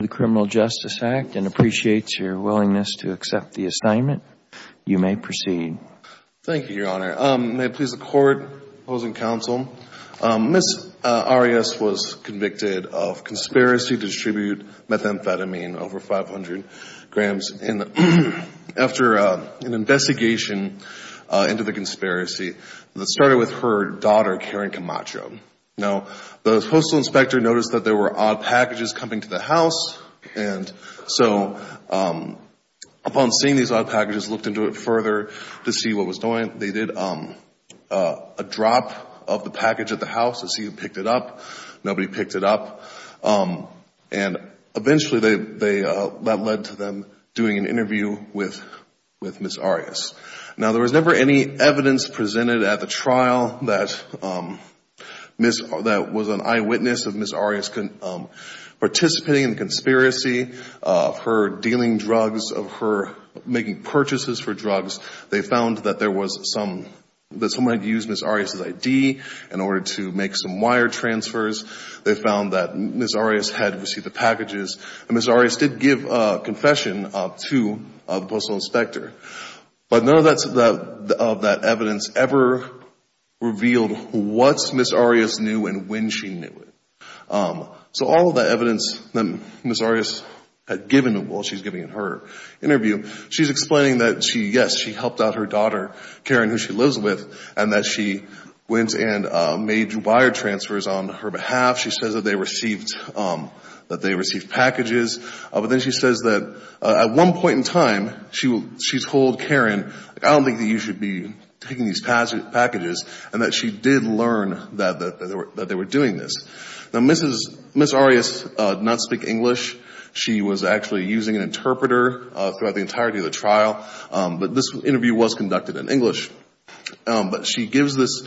of the Criminal Justice Act and appreciates your willingness to accept the assignment, you may proceed. Thank you, Your Honor. May it please the Court, opposing counsel, Ms. Arias was convicted of conspiracy to distribute methamphetamine, over 500 grams, after an investigation into the conspiracy that started with her daughter, Karen Camacho. Now, the postal inspector noticed that there were odd packages coming to the house. And so, upon seeing these odd packages, looked into it further to see what was going on. They did a drop of the package at the house to see who picked it up. Nobody picked it up. And eventually, that led to them doing an interview with Ms. Arias. Now, there was never any evidence presented at the trial that was an eyewitness of Ms. Arias participating in the conspiracy, of her dealing drugs, of her making purchases for drugs. They found that there was some — that someone had used Ms. Arias' I.D. in order to make some wire transfers. They found that Ms. Arias had received the packages. And Ms. Arias did give a confession to the postal inspector. But none of that evidence ever revealed what Ms. Arias knew and when she knew it. So all of the evidence that Ms. Arias had given while she's giving her interview, she's explaining that she, yes, she helped out her daughter, Karen, who she lives with, and that she went and made wire transfers on her behalf. She says that they received packages. But then she says that at one point in time, she told Karen, I don't think that you should be taking these packages, and that she did learn that they were doing this. Now, Ms. Arias did not speak English. She was actually using an interpreter throughout the entirety of the trial. But this interview was conducted in English. But she gives this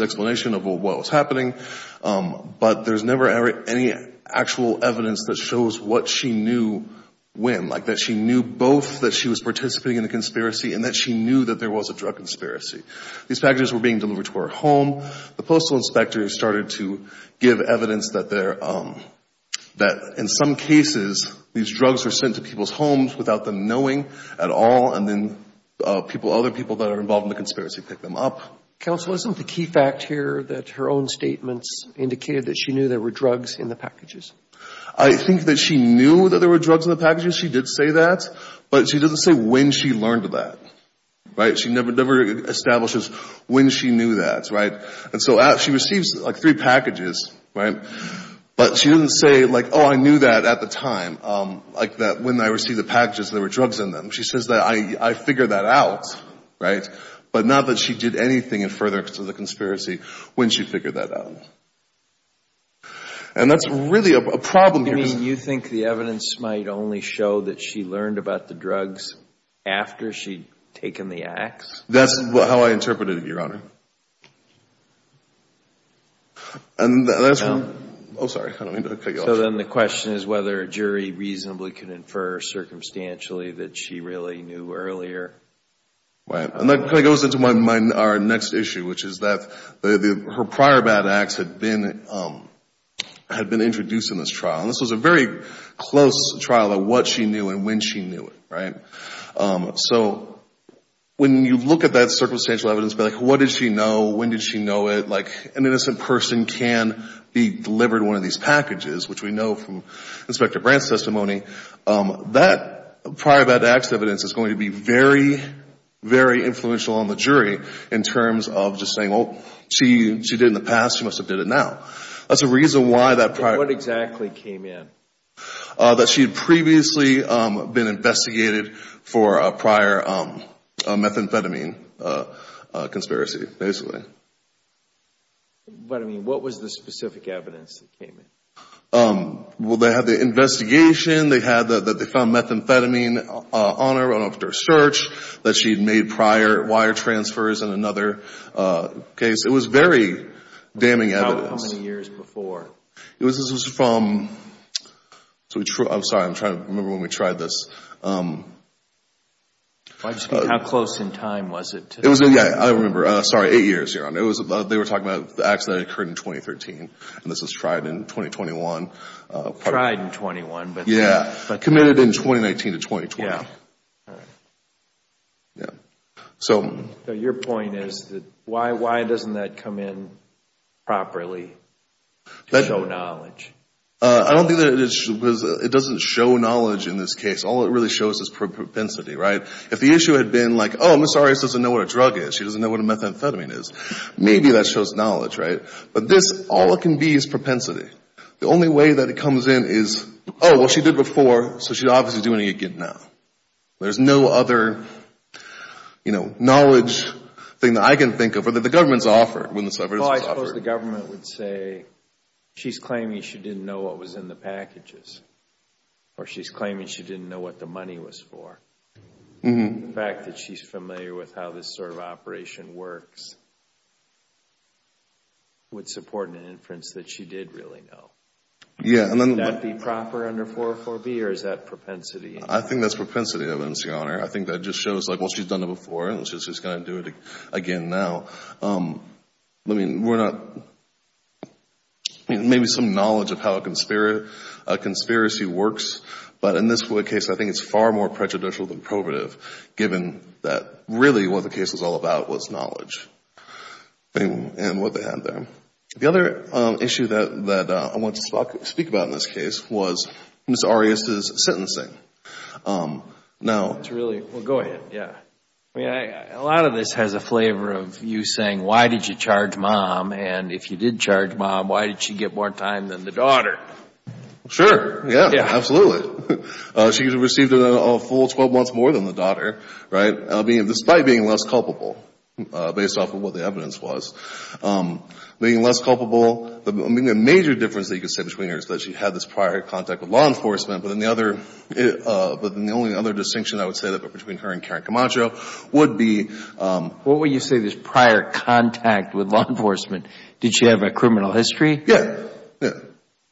explanation of what was happening. But there's never any actual evidence that shows what she knew when, like that she knew both that she was participating in the conspiracy and that she knew that there was a drug conspiracy. These packages were being delivered to her home. The postal inspector started to give evidence that they're — that in some cases, these drugs were sent to people's homes without them knowing at all. And then people — other people that are involved in the conspiracy pick them up. Counsel, isn't the key fact here that her own statements indicated that she knew there were drugs in the packages? I think that she knew that there were drugs in the packages. She did say that. But she doesn't say when she learned that. Right? She never establishes when she knew that. Right? And so she receives like three packages. Right? But she doesn't say like, oh, I knew that at the time, like that when I received the packages, there were drugs in them. She says that I figured that out. Right? But not that she did anything in furtherance to the conspiracy when she figured that out. And that's really a problem here. You mean you think the evidence might only show that she learned about the drugs after she'd taken the ax? That's how I interpreted it, Your Honor. And that's — oh, sorry. I don't mean to cut you off. So then the question is whether a jury reasonably could infer circumstantially that she really knew earlier. Right. And that kind of goes into our next issue, which is that her prior bad acts had been introduced in this trial. And this was a very close trial of what she knew and when she knew it. Right? So when you look at that circumstantial evidence, but like what did she know? When did she know it? Like an innocent person can be delivered one of these packages, which we know from Inspector Brandt's testimony, that prior bad acts evidence is going to be very, very influential on the jury in terms of just saying, oh, she did in the past, she must have did it now. That's the reason why that prior — And what exactly came in? That she had previously been investigated for a prior methamphetamine conspiracy, basically. But, I mean, what was the specific evidence that came in? Well, they had the investigation. They found methamphetamine on her after a search that she had made prior wire transfers in another case. It was very damning evidence. About how many years before? It was from — I'm sorry. I'm trying to remember when we tried this. How close in time was it to that? I don't remember. Sorry. Eight years, Your Honor. They were talking about the acts that occurred in 2013, and this was tried in 2021. Tried in 21, but — Yeah. Committed in 2019 to 2020. Yeah. All right. So — So your point is that why doesn't that come in properly to show knowledge? I don't think that it doesn't show knowledge in this case. All it really shows is propensity, right? If the issue had been, like, oh, Ms. Arias doesn't know what a drug is, she doesn't know what a methamphetamine is, maybe that shows knowledge, right? But this, all it can be is propensity. The only way that it comes in is, oh, well, she did before, so she's obviously doing it again now. There's no other, you know, knowledge thing that I can think of or that the government's offered when this evidence was offered. Well, I suppose the government would say she's claiming she didn't know what was in the packages. Or she's claiming she didn't know what the money was for. Mm-hmm. The fact that she's familiar with how this sort of operation works would support an inference that she did really know. Yeah. Would that be proper under 404B, or is that propensity? I think that's propensity evidence, Your Honor. I think that just shows, like, well, she's done it before, and she's just going to do it again now. I mean, we're not — maybe some knowledge of how a conspiracy works, but in this case, I think it's far more prejudicial than probative, given that really what the case was all about was knowledge and what they had there. The other issue that I want to speak about in this case was Ms. Arias' sentencing. Now — It's really — well, go ahead. Yeah. I mean, a lot of this has a flavor of you saying, why did you charge mom? And if you did charge mom, why did she get more time than the daughter? Sure. Yeah. Absolutely. She received a full 12 months more than the daughter, right, despite being less culpable, based off of what the evidence was. Being less culpable — I mean, the major difference that you could say between her is that she had this prior contact with law enforcement, but then the other — but then the only other distinction I would say between her and Karen Camacho would be — What would you say this prior contact with law enforcement — did she have a criminal history? Yeah. Yeah.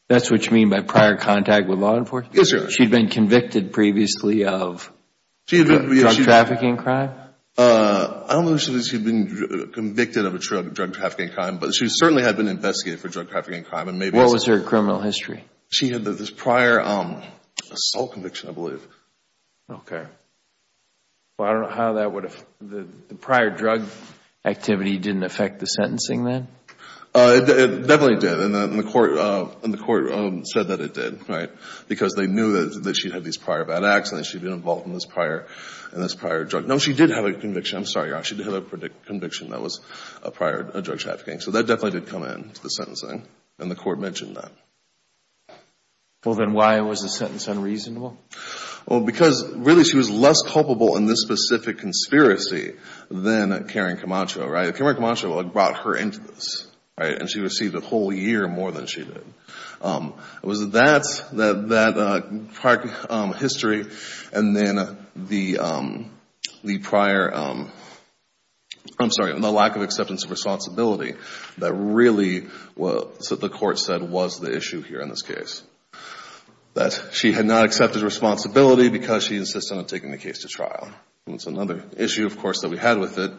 That's what you mean by prior contact with law enforcement? Yes, sir. She had been convicted previously of a drug trafficking crime? I don't know if she had been convicted of a drug trafficking crime, but she certainly had been investigated for drug trafficking crime, and maybe — What was her criminal history? She had this prior assault conviction, I believe. Okay. Well, I don't know how that would have — the prior drug activity didn't affect the sentencing then? It definitely did, and the court said that it did, right, because they knew that she had had these prior bad acts and that she had been involved in this prior drug. No, she did have a conviction. I'm sorry, Your Honor. She did have a conviction that was a prior drug trafficking. So that definitely did come into the sentencing, and the court mentioned that. Well, then why was the sentence unreasonable? Well, because really she was less culpable in this specific conspiracy than Karen Camacho, right? Karen Camacho brought her into this, right? And she received a whole year more than she did. It was that, that prior history, and then the prior — I'm sorry, the lack of acceptance of responsibility that really, the court said, was the issue here in this case. That she had not accepted responsibility because she insisted on taking the case to trial. That's another issue, of course, that we had with it.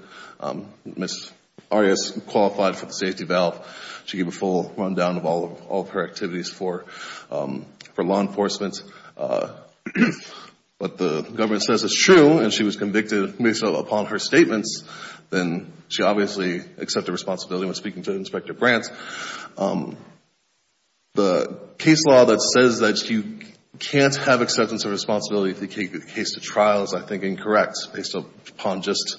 Ms. Arias qualified for the safety valve. She gave a full rundown of all of her activities for law enforcement. But the government says it's true, and she was convicted based upon her statements. Then she obviously accepted responsibility when speaking to Inspector Brandt. The case law that says that you can't have acceptance of responsibility if you take the case to trial is, I think, incorrect based upon just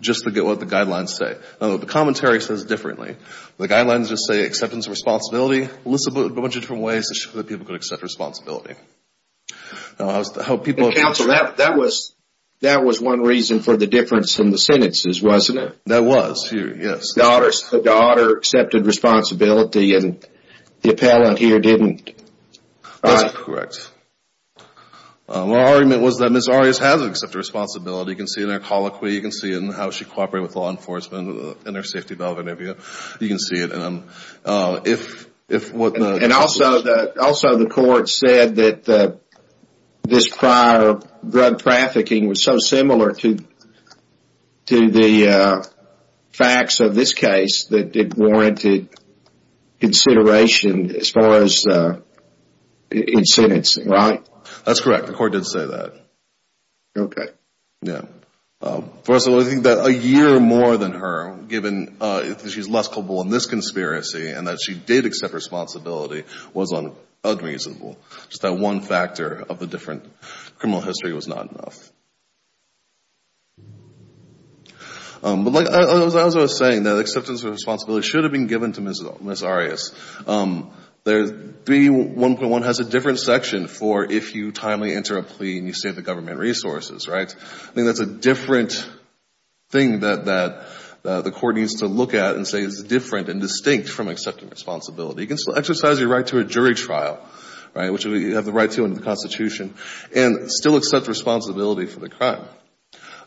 what the guidelines say. The commentary says differently. The guidelines just say acceptance of responsibility. Well, this is a bunch of different ways to show that people could accept responsibility. Counsel, that was one reason for the difference in the sentences, wasn't it? That was, yes. The daughter accepted responsibility, and the appellant here didn't. That's correct. My argument was that Ms. Arias has accepted responsibility. You can see it in her colloquy. You can see it in how she cooperated with law enforcement in her safety valve interview. You can see it in them. Also, the court said that this prior drug trafficking was so similar to the facts of this case that it warranted consideration as far as in sentencing, right? That's correct. The court did say that. Okay. Yeah. First of all, I think that a year more than her, given that she's less culpable in this conspiracy, and that she did accept responsibility, was unreasonable. Just that one factor of the different criminal history was not enough. But as I was saying, that acceptance of responsibility should have been given to Ms. Arias. 3.1.1 has a different section for if you timely enter a plea and you save the government resources, right? I think that's a different thing that the court needs to look at and say is different and distinct from accepting responsibility. You can still exercise your right to a jury trial, right, which you have the right to in the Constitution, and still accept responsibility for the crime.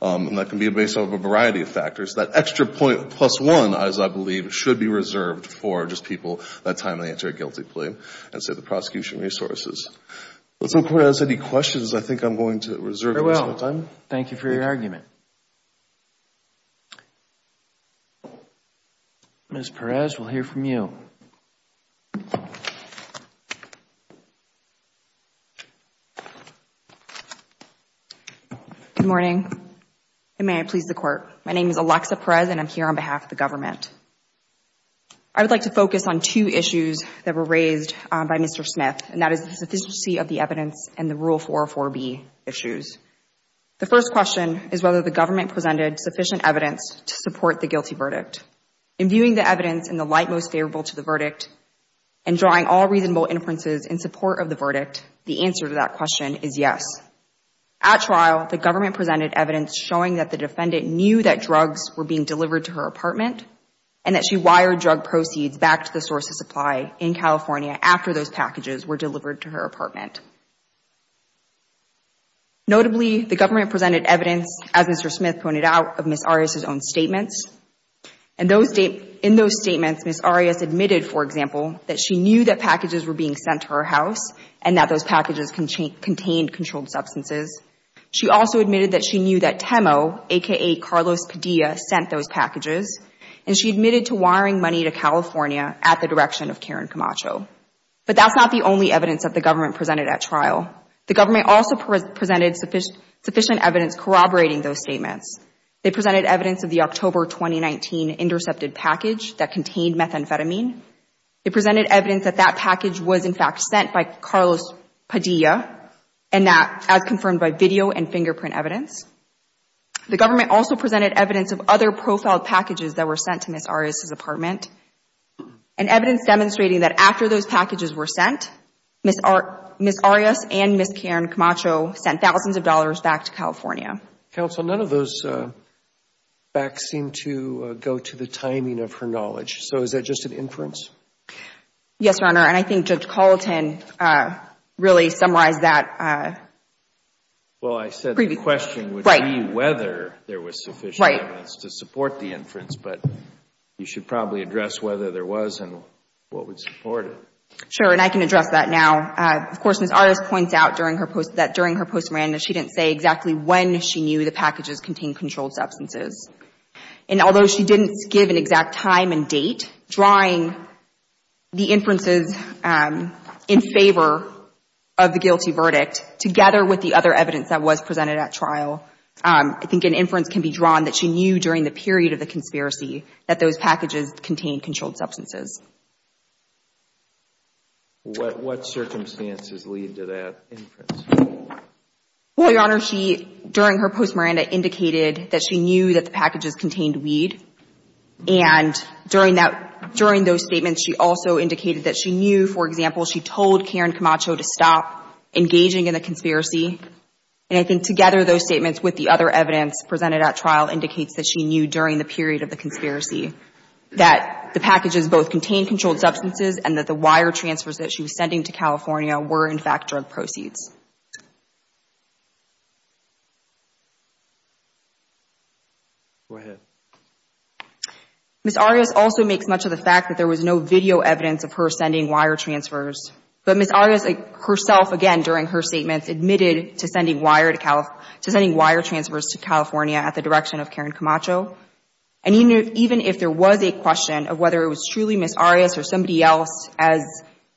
And that can be based on a variety of factors. That extra point plus one, as I believe, should be reserved for just people that time they enter a guilty plea and save the prosecution resources. If the court has any questions, I think I'm going to reserve the rest of my time. Very well. Thank you for your argument. Ms. Perez, we'll hear from you. Good morning, and may it please the Court. My name is Alexa Perez, and I'm here on behalf of the government. I would like to focus on two issues that were raised by Mr. Smith, and that is the sufficiency of the evidence and the Rule 404b issues. The first question is whether the government presented sufficient evidence to support the guilty verdict. In viewing the evidence in the light most favorable to the verdict and drawing all reasonable inferences in support of the verdict, the answer to that question is yes. At trial, the government presented evidence showing that the defendant knew that drugs were being delivered to her apartment and that she wired drug proceeds back to the source of supply in California after those packages were delivered to her apartment. Notably, the government presented evidence, as Mr. Smith pointed out, of Ms. Arias' own statements. In those statements, Ms. Arias admitted, for example, that she knew that packages were being sent to her house and that those packages contained controlled substances. She also admitted that she knew that TEMO, a.k.a. Carlos Padilla, sent those packages, and she admitted to wiring money to California at the direction of Karen Camacho. But that's not the only evidence that the government presented at trial. The government also presented sufficient evidence corroborating those statements. They presented evidence of the October 2019 intercepted package that contained methamphetamine. They presented evidence that that package was, in fact, sent by Carlos Padilla, and that, as confirmed by video and fingerprint evidence. The government also presented evidence of other profiled packages that were sent to Ms. Arias' apartment, and evidence demonstrating that after those packages were sent, Ms. Arias and Ms. Karen Camacho sent thousands of dollars back to California. Counsel, none of those backs seem to go to the timing of her knowledge. So is that just an inference? Yes, Your Honor, and I think Judge Carlton really summarized that. Well, I said the question would be whether there was sufficient evidence to support the inference, but you should probably address whether there was and what would support it. Sure, and I can address that now. Of course, Ms. Arias points out that during her postmortem, she didn't say exactly when she knew the packages contained controlled substances. And although she didn't give an exact time and date, drawing the inferences in favor of the guilty verdict, together with the other evidence that was presented at trial, I think an inference can be drawn that she knew during the period of the conspiracy that those packages contained controlled substances. What circumstances lead to that inference? Well, Your Honor, she, during her postmortem, indicated that she knew that the packages contained weed. And during that, during those statements, she also indicated that she knew, for example, she told Karen Camacho to stop engaging in the conspiracy. And I think together those statements with the other evidence presented at trial indicates that she knew during the period of the conspiracy that the packages both contained controlled substances and that the wire transfers that she was sending to California were, in fact, drug proceeds. Go ahead. Ms. Arias also makes much of the fact that there was no video evidence of her sending wire transfers. But Ms. Arias herself, again, during her statements, admitted to sending wire transfers to California at the direction of Karen Camacho. And even if there was a question of whether it was truly Ms. Arias or somebody else, as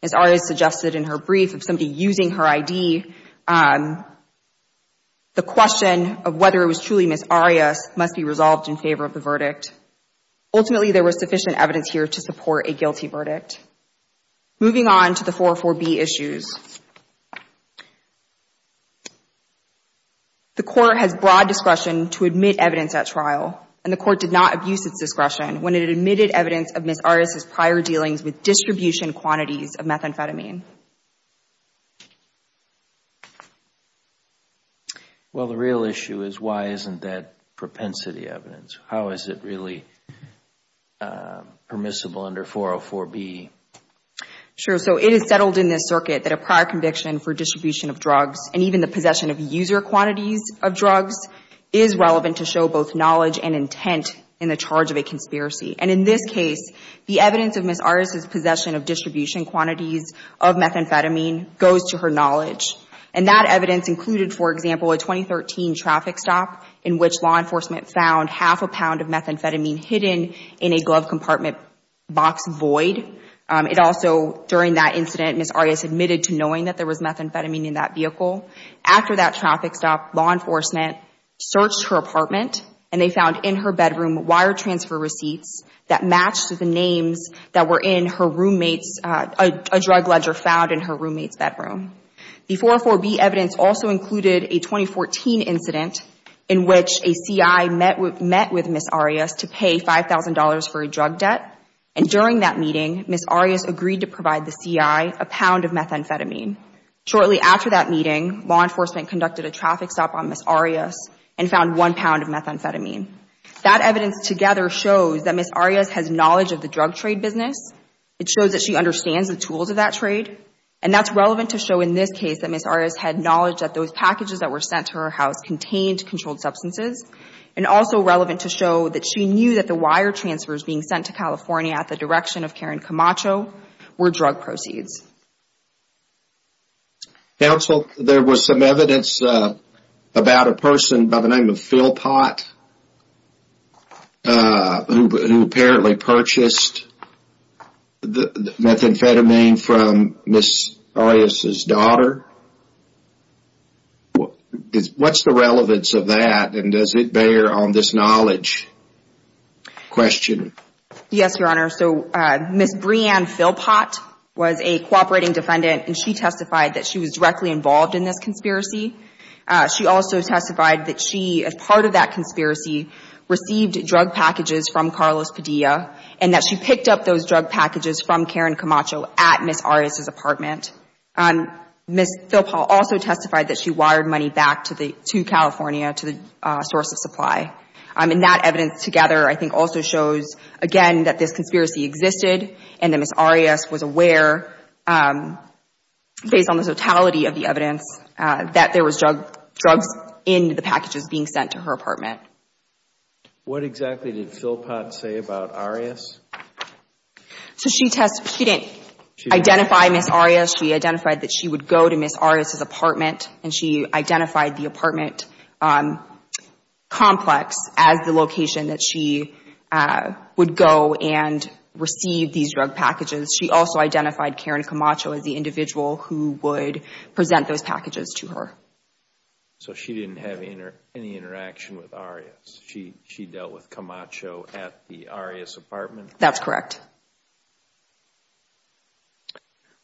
Ms. Arias suggested in her brief of somebody using her ID, the question of whether it was truly Ms. Arias must be resolved in favor of the verdict. Ultimately, there was sufficient evidence here to support a guilty verdict. Moving on to the 404B issues. The court has broad discretion to admit evidence at trial, and the court did not abuse its discretion when it admitted evidence of Ms. Arias' prior dealings with distribution quantities of methamphetamine. Well, the real issue is why isn't that propensity evidence? How is it really permissible under 404B? Sure. So it is settled in this circuit that a prior conviction for distribution of drugs and even the possession of user quantities of drugs is relevant to show both knowledge and intent in the charge of a conspiracy. And in this case, the evidence of Ms. Arias' possession of distribution quantities of methamphetamine goes to her knowledge. And that evidence included, for example, a 2013 traffic stop in which law enforcement found half a pound of methamphetamine hidden in a glove compartment box void. It also, during that incident, Ms. Arias admitted to knowing that there was methamphetamine in that vehicle. After that traffic stop, law enforcement searched her apartment and they found in her bedroom wire transfer receipts that matched the names that were in her roommate's, a drug ledger found in her roommate's bedroom. The 404B evidence also included a 2014 incident in which a CI met with Ms. Arias to pay $5,000 for a drug debt. And during that meeting, Ms. Arias agreed to provide the CI a pound of methamphetamine. Shortly after that meeting, law enforcement conducted a traffic stop on Ms. Arias and found one pound of methamphetamine. That evidence together shows that Ms. Arias has knowledge of the drug trade business. It shows that she understands the tools of that trade. And that's relevant to show in this case that Ms. Arias had knowledge that those packages that were sent to her house contained controlled substances. And also relevant to show that she knew that the wire transfers being sent to California at the direction of Karen Camacho were drug proceeds. Counsel, there was some evidence about a person by the name of Philpot who apparently purchased methamphetamine from Ms. Arias' daughter. What's the relevance of that and does it bear on this knowledge question? Yes, Your Honor. So Ms. Breanne Philpot was a cooperating defendant and she testified that she was directly involved in this conspiracy. She also testified that she, as part of that conspiracy, received drug packages from Carlos Padilla and that she picked up those drug packages from Karen Camacho at Ms. Arias' apartment. Ms. Philpot also testified that she wired money back to California to the source of supply. And that evidence together I think also shows, again, that this conspiracy existed and that Ms. Arias was aware, based on the totality of the evidence, that there was drugs in the packages being sent to her apartment. What exactly did Philpot say about Arias? So she didn't identify Ms. Arias. She identified that she would go to Ms. Arias' apartment and she identified the apartment complex as the location that she would go and receive these drug packages. She also identified Karen Camacho as the individual who would present those packages to her. So she didn't have any interaction with Arias. She dealt with Camacho at the Arias apartment? That's correct.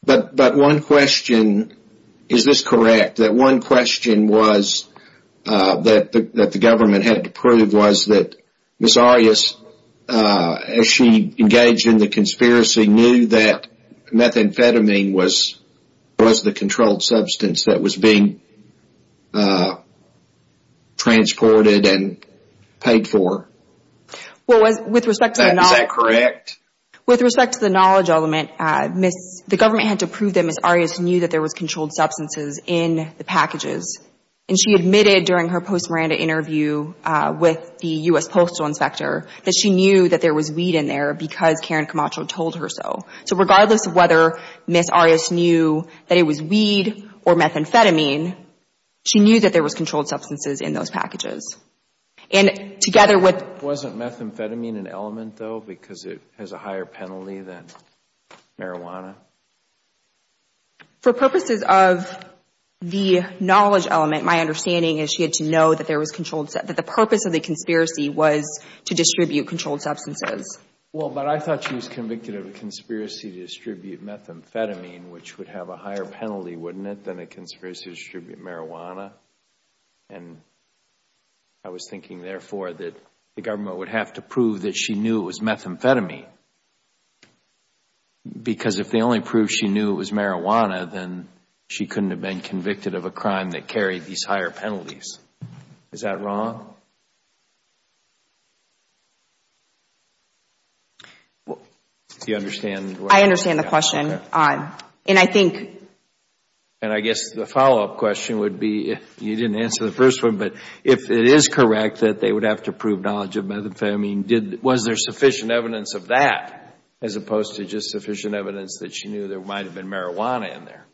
But one question, is this correct, that one question that the government had to prove was that Ms. Arias, as she engaged in the conspiracy, knew that methamphetamine was the controlled substance that was being transported and paid for? Is that correct? With respect to the knowledge element, the government had to prove that Ms. Arias knew that there was controlled substances in the packages. And she admitted during her post-Miranda interview with the U.S. Postal Inspector that she knew that there was weed in there because Karen Camacho told her so. So regardless of whether Ms. Arias knew that it was weed or methamphetamine, she knew that there was controlled substances in those packages. And together with... Wasn't methamphetamine an element, though, because it has a higher penalty than marijuana? For purposes of the knowledge element, my understanding is she had to know that the purpose of the conspiracy was to distribute controlled substances. Well, but I thought she was convicted of a conspiracy to distribute methamphetamine, which would have a higher penalty, wouldn't it, than a conspiracy to distribute marijuana? And I was thinking, therefore, that the government would have to prove that she knew it was methamphetamine. Because if they only proved she knew it was marijuana, then she couldn't have been convicted of a crime that carried these higher penalties. Is that wrong? Do you understand? I understand the question. And I think... And I guess the follow-up question would be, you didn't answer the first one, but if it is correct that they would have to prove knowledge of methamphetamine, was there sufficient evidence of that as opposed to just sufficient evidence that she knew there might have been marijuana in there?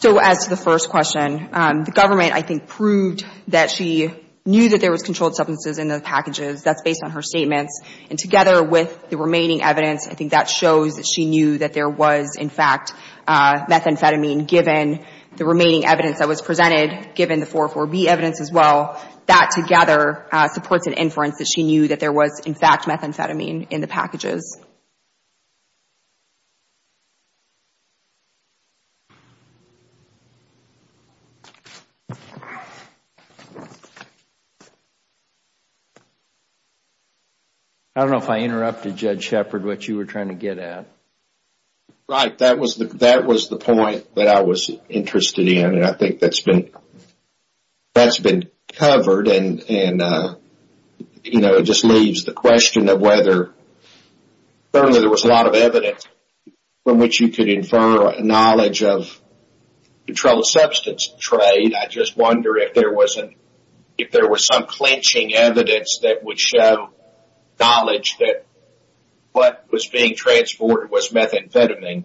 So, as to the first question, the government, I think, proved that she knew that there was controlled substances in those packages. That's based on her statements. And together with the remaining evidence, I think that shows that she knew that there was, in fact, methamphetamine, given the remaining evidence that was presented, given the 404B evidence as well. That together supports an inference that she knew that there was, in fact, methamphetamine in the packages. I don't know if I interrupted, Judge Shepard, what you were trying to get at. Right. That was the point that I was interested in. I mean, I think that's been covered and, you know, it just leaves the question of whether there was a lot of evidence from which you could infer knowledge of controlled substance trade. I just wonder if there was some clinching evidence that would show knowledge that what was being transported was methamphetamine.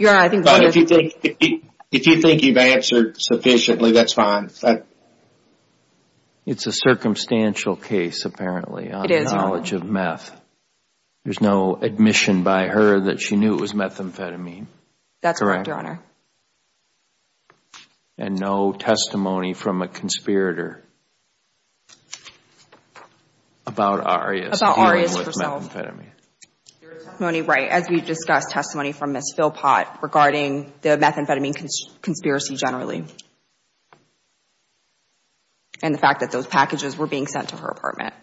But if you think you've answered sufficiently, that's fine. It's a circumstantial case, apparently, on knowledge of meth. There's no admission by her that she knew it was methamphetamine. That's correct, Your Honor. And no testimony from a conspirator about Arias dealing with methamphetamine. Your testimony, right, as we discussed testimony from Ms. Philpott regarding the methamphetamine conspiracy generally and the fact that those packages were being sent to her apartment.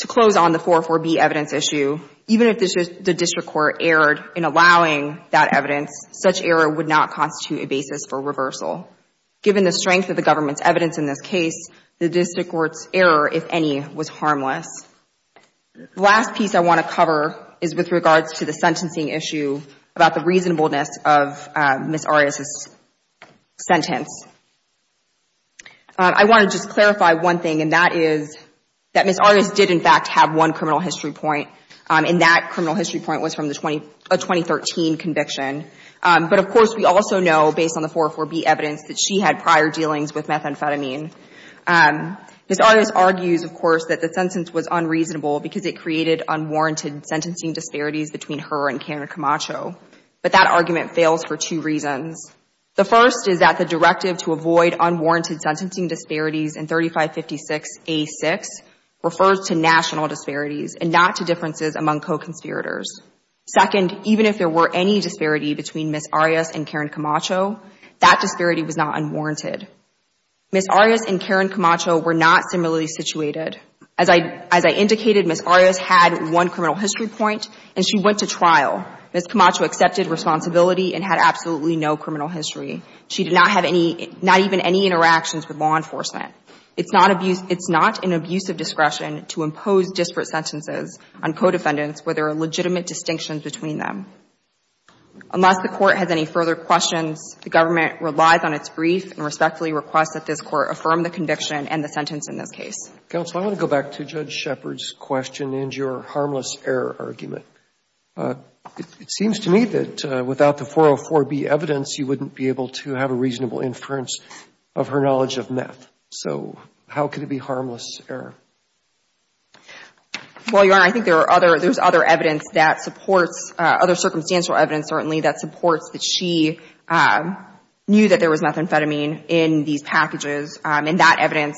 To close on the 404B evidence issue, even if the district court erred in allowing that evidence, such error would not constitute a basis for reversal. Given the strength of the government's evidence in this case, the district court's error, if any, was harmless. The last piece I want to cover is with regards to the sentencing issue about the reasonableness of Ms. Arias' sentence. I want to just clarify one thing, and that is that Ms. Arias did, in fact, have one criminal history point, and that criminal history point was from a 2013 conviction. But, of course, we also know, based on the 404B evidence, that she had prior dealings with methamphetamine. Ms. Arias argues, of course, that the sentence was unreasonable because it created unwarranted sentencing disparities between her and Karen Camacho. But that argument fails for two reasons. The first is that the directive to avoid unwarranted sentencing disparities in 3556A6 refers to national disparities and not to differences among co-conspirators. Second, even if there were any disparity between Ms. Arias and Karen Camacho, that disparity was not unwarranted. Ms. Arias and Karen Camacho were not similarly situated. As I indicated, Ms. Arias had one criminal history point, and she went to trial. Ms. Camacho accepted responsibility and had absolutely no criminal history. She did not have not even any interactions with law enforcement. It's not an abuse of discretion to impose disparate sentences on co-defendants where there are legitimate distinctions between them. Unless the Court has any further questions, the government relies on its brief and respectfully requests that this Court affirm the conviction and the sentence in this case. Robertson, I want to go back to Judge Shepard's question and your harmless error argument. It seems to me that without the 404B evidence, you wouldn't be able to have a reasonable inference of her knowledge of meth. So how could it be harmless error? Well, Your Honor, I think there's other evidence that supports, other circumstantial evidence certainly, that supports that she knew that there was methamphetamine in these packages. And that evidence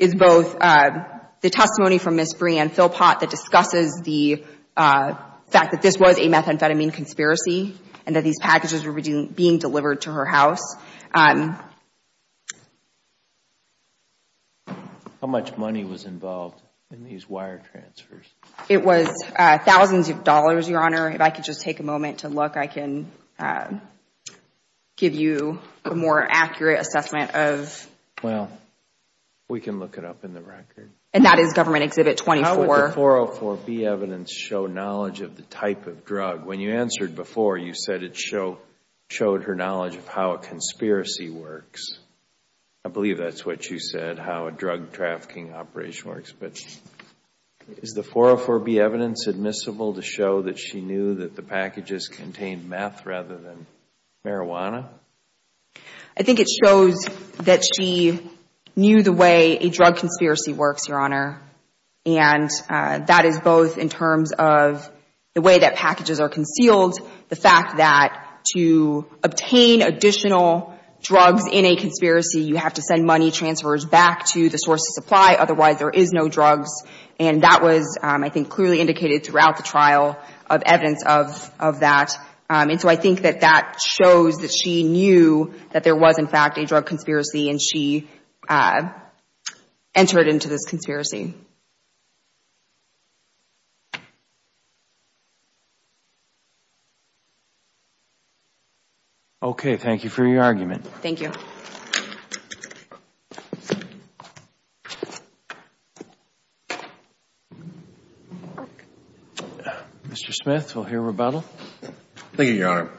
is both the testimony from Ms. Bree and Phil Pott that discusses the fact that this was a methamphetamine conspiracy and that these packages were being delivered to her house. How much money was involved in these wire transfers? It was thousands of dollars, Your Honor. If I could just take a moment to look, I can give you a more accurate assessment of... Well, we can look it up in the record. And that is Government Exhibit 24. How would the 404B evidence show knowledge of the type of drug? When you answered before, you said it showed her knowledge of how it conspiracy works. I believe that's what you said, how a drug trafficking operation works. But is the 404B evidence admissible to show that she knew that the packages contained meth rather than marijuana? I think it shows that she knew the way a drug conspiracy works, Your Honor. And that is both in terms of the way that packages are concealed, the fact that to obtain additional drugs in a conspiracy, you have to send money transfers back to the source of supply. Otherwise, there is no drugs. And that was, I think, clearly indicated throughout the trial of evidence of that. And so I think that that shows that she knew that there was, in fact, a drug conspiracy, and she entered into this conspiracy. Okay. Thank you for your argument. Thank you. Mr. Smith, we'll hear rebuttal. Thank you, Your Honor.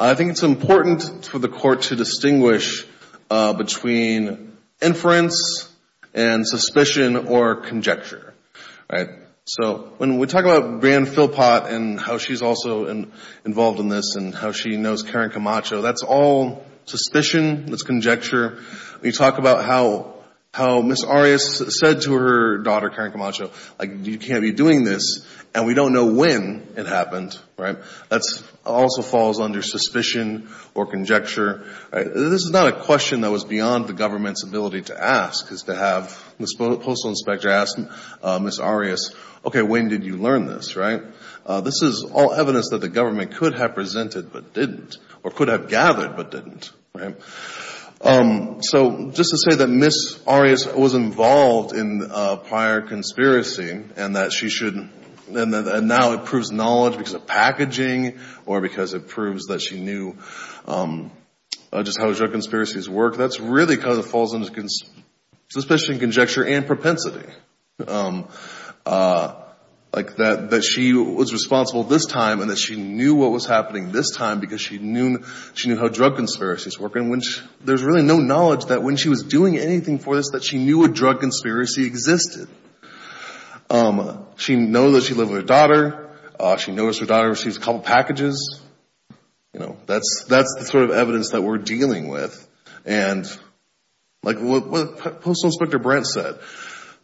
I think it's important for the Court to distinguish between inference and suspicion or conjecture. So when we talk about Bran Philpott and how she's also involved in this and how she knows Karen Camacho, that's all suspicion, that's conjecture. We talk about how Ms. Arias said to her daughter, Karen Camacho, like, you can't be doing this, and we don't know when it happened. That also falls under suspicion or conjecture. This is not a question that was beyond the government's ability to ask, is to have the postal inspector ask Ms. Arias, okay, when did you learn this? Right? This is all evidence that the government could have presented but didn't, or could have gathered but didn't. Right? So just to say that Ms. Arias was involved in a prior conspiracy and that now it proves knowledge because of packaging or because it proves that she knew just how drug conspiracies work, that's really kind of what falls under suspicion, conjecture, and propensity. Like that she was responsible this time and that she knew what was happening this time because she knew how drug conspiracies work. And there's really no knowledge that when she was doing anything for this that she knew a drug conspiracy existed. She knows that she lives with her daughter. She knows her daughter receives a couple packages. You know, that's the sort of evidence that we're dealing with. And like what Postal Inspector Brent said,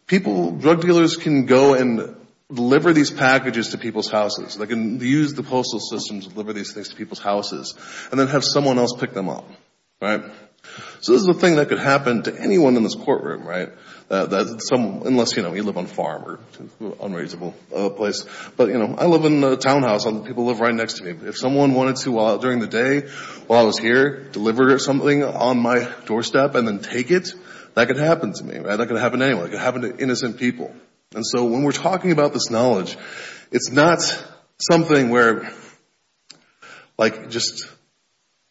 drug dealers can go and deliver these packages to people's houses. They can use the postal system to deliver these things to people's houses and then have someone else pick them up. Right? So this is a thing that could happen to anyone in this courtroom, right? Unless, you know, you live on a farm or an unreasonable place. But, you know, I live in a townhouse. People live right next to me. If someone wanted to, during the day while I was here, deliver something on my doorstep and then take it, that could happen to me. Right? That could happen to anyone. It could happen to innocent people. And so when we're talking about this knowledge, it's not something where like just,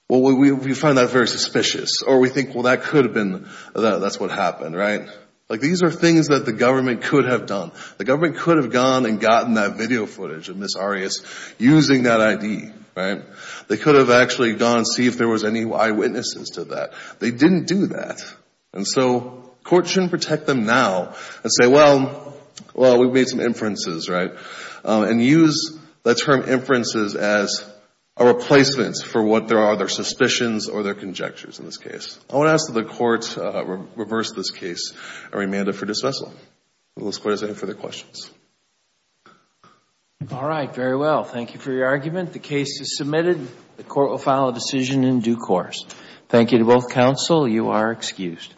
well, we find that very suspicious or we think, well, that could have been, that's what happened. Right? Like these are things that the government could have done. The government could have gone and gotten that video footage of Ms. Arias using that ID. Right? They could have actually gone and see if there was any eyewitnesses to that. They didn't do that. And so court shouldn't protect them now and say, well, we made some inferences. Right? And use the term inferences as a replacement for what there are, their suspicions or their conjectures in this case. I want to ask that the court reverse this case and remand it for dismissal. With those questions, I have no further questions. All right. Very well. Thank you for your argument. The case is submitted. The court will file a decision in due course. Thank you to both counsel. You are excused.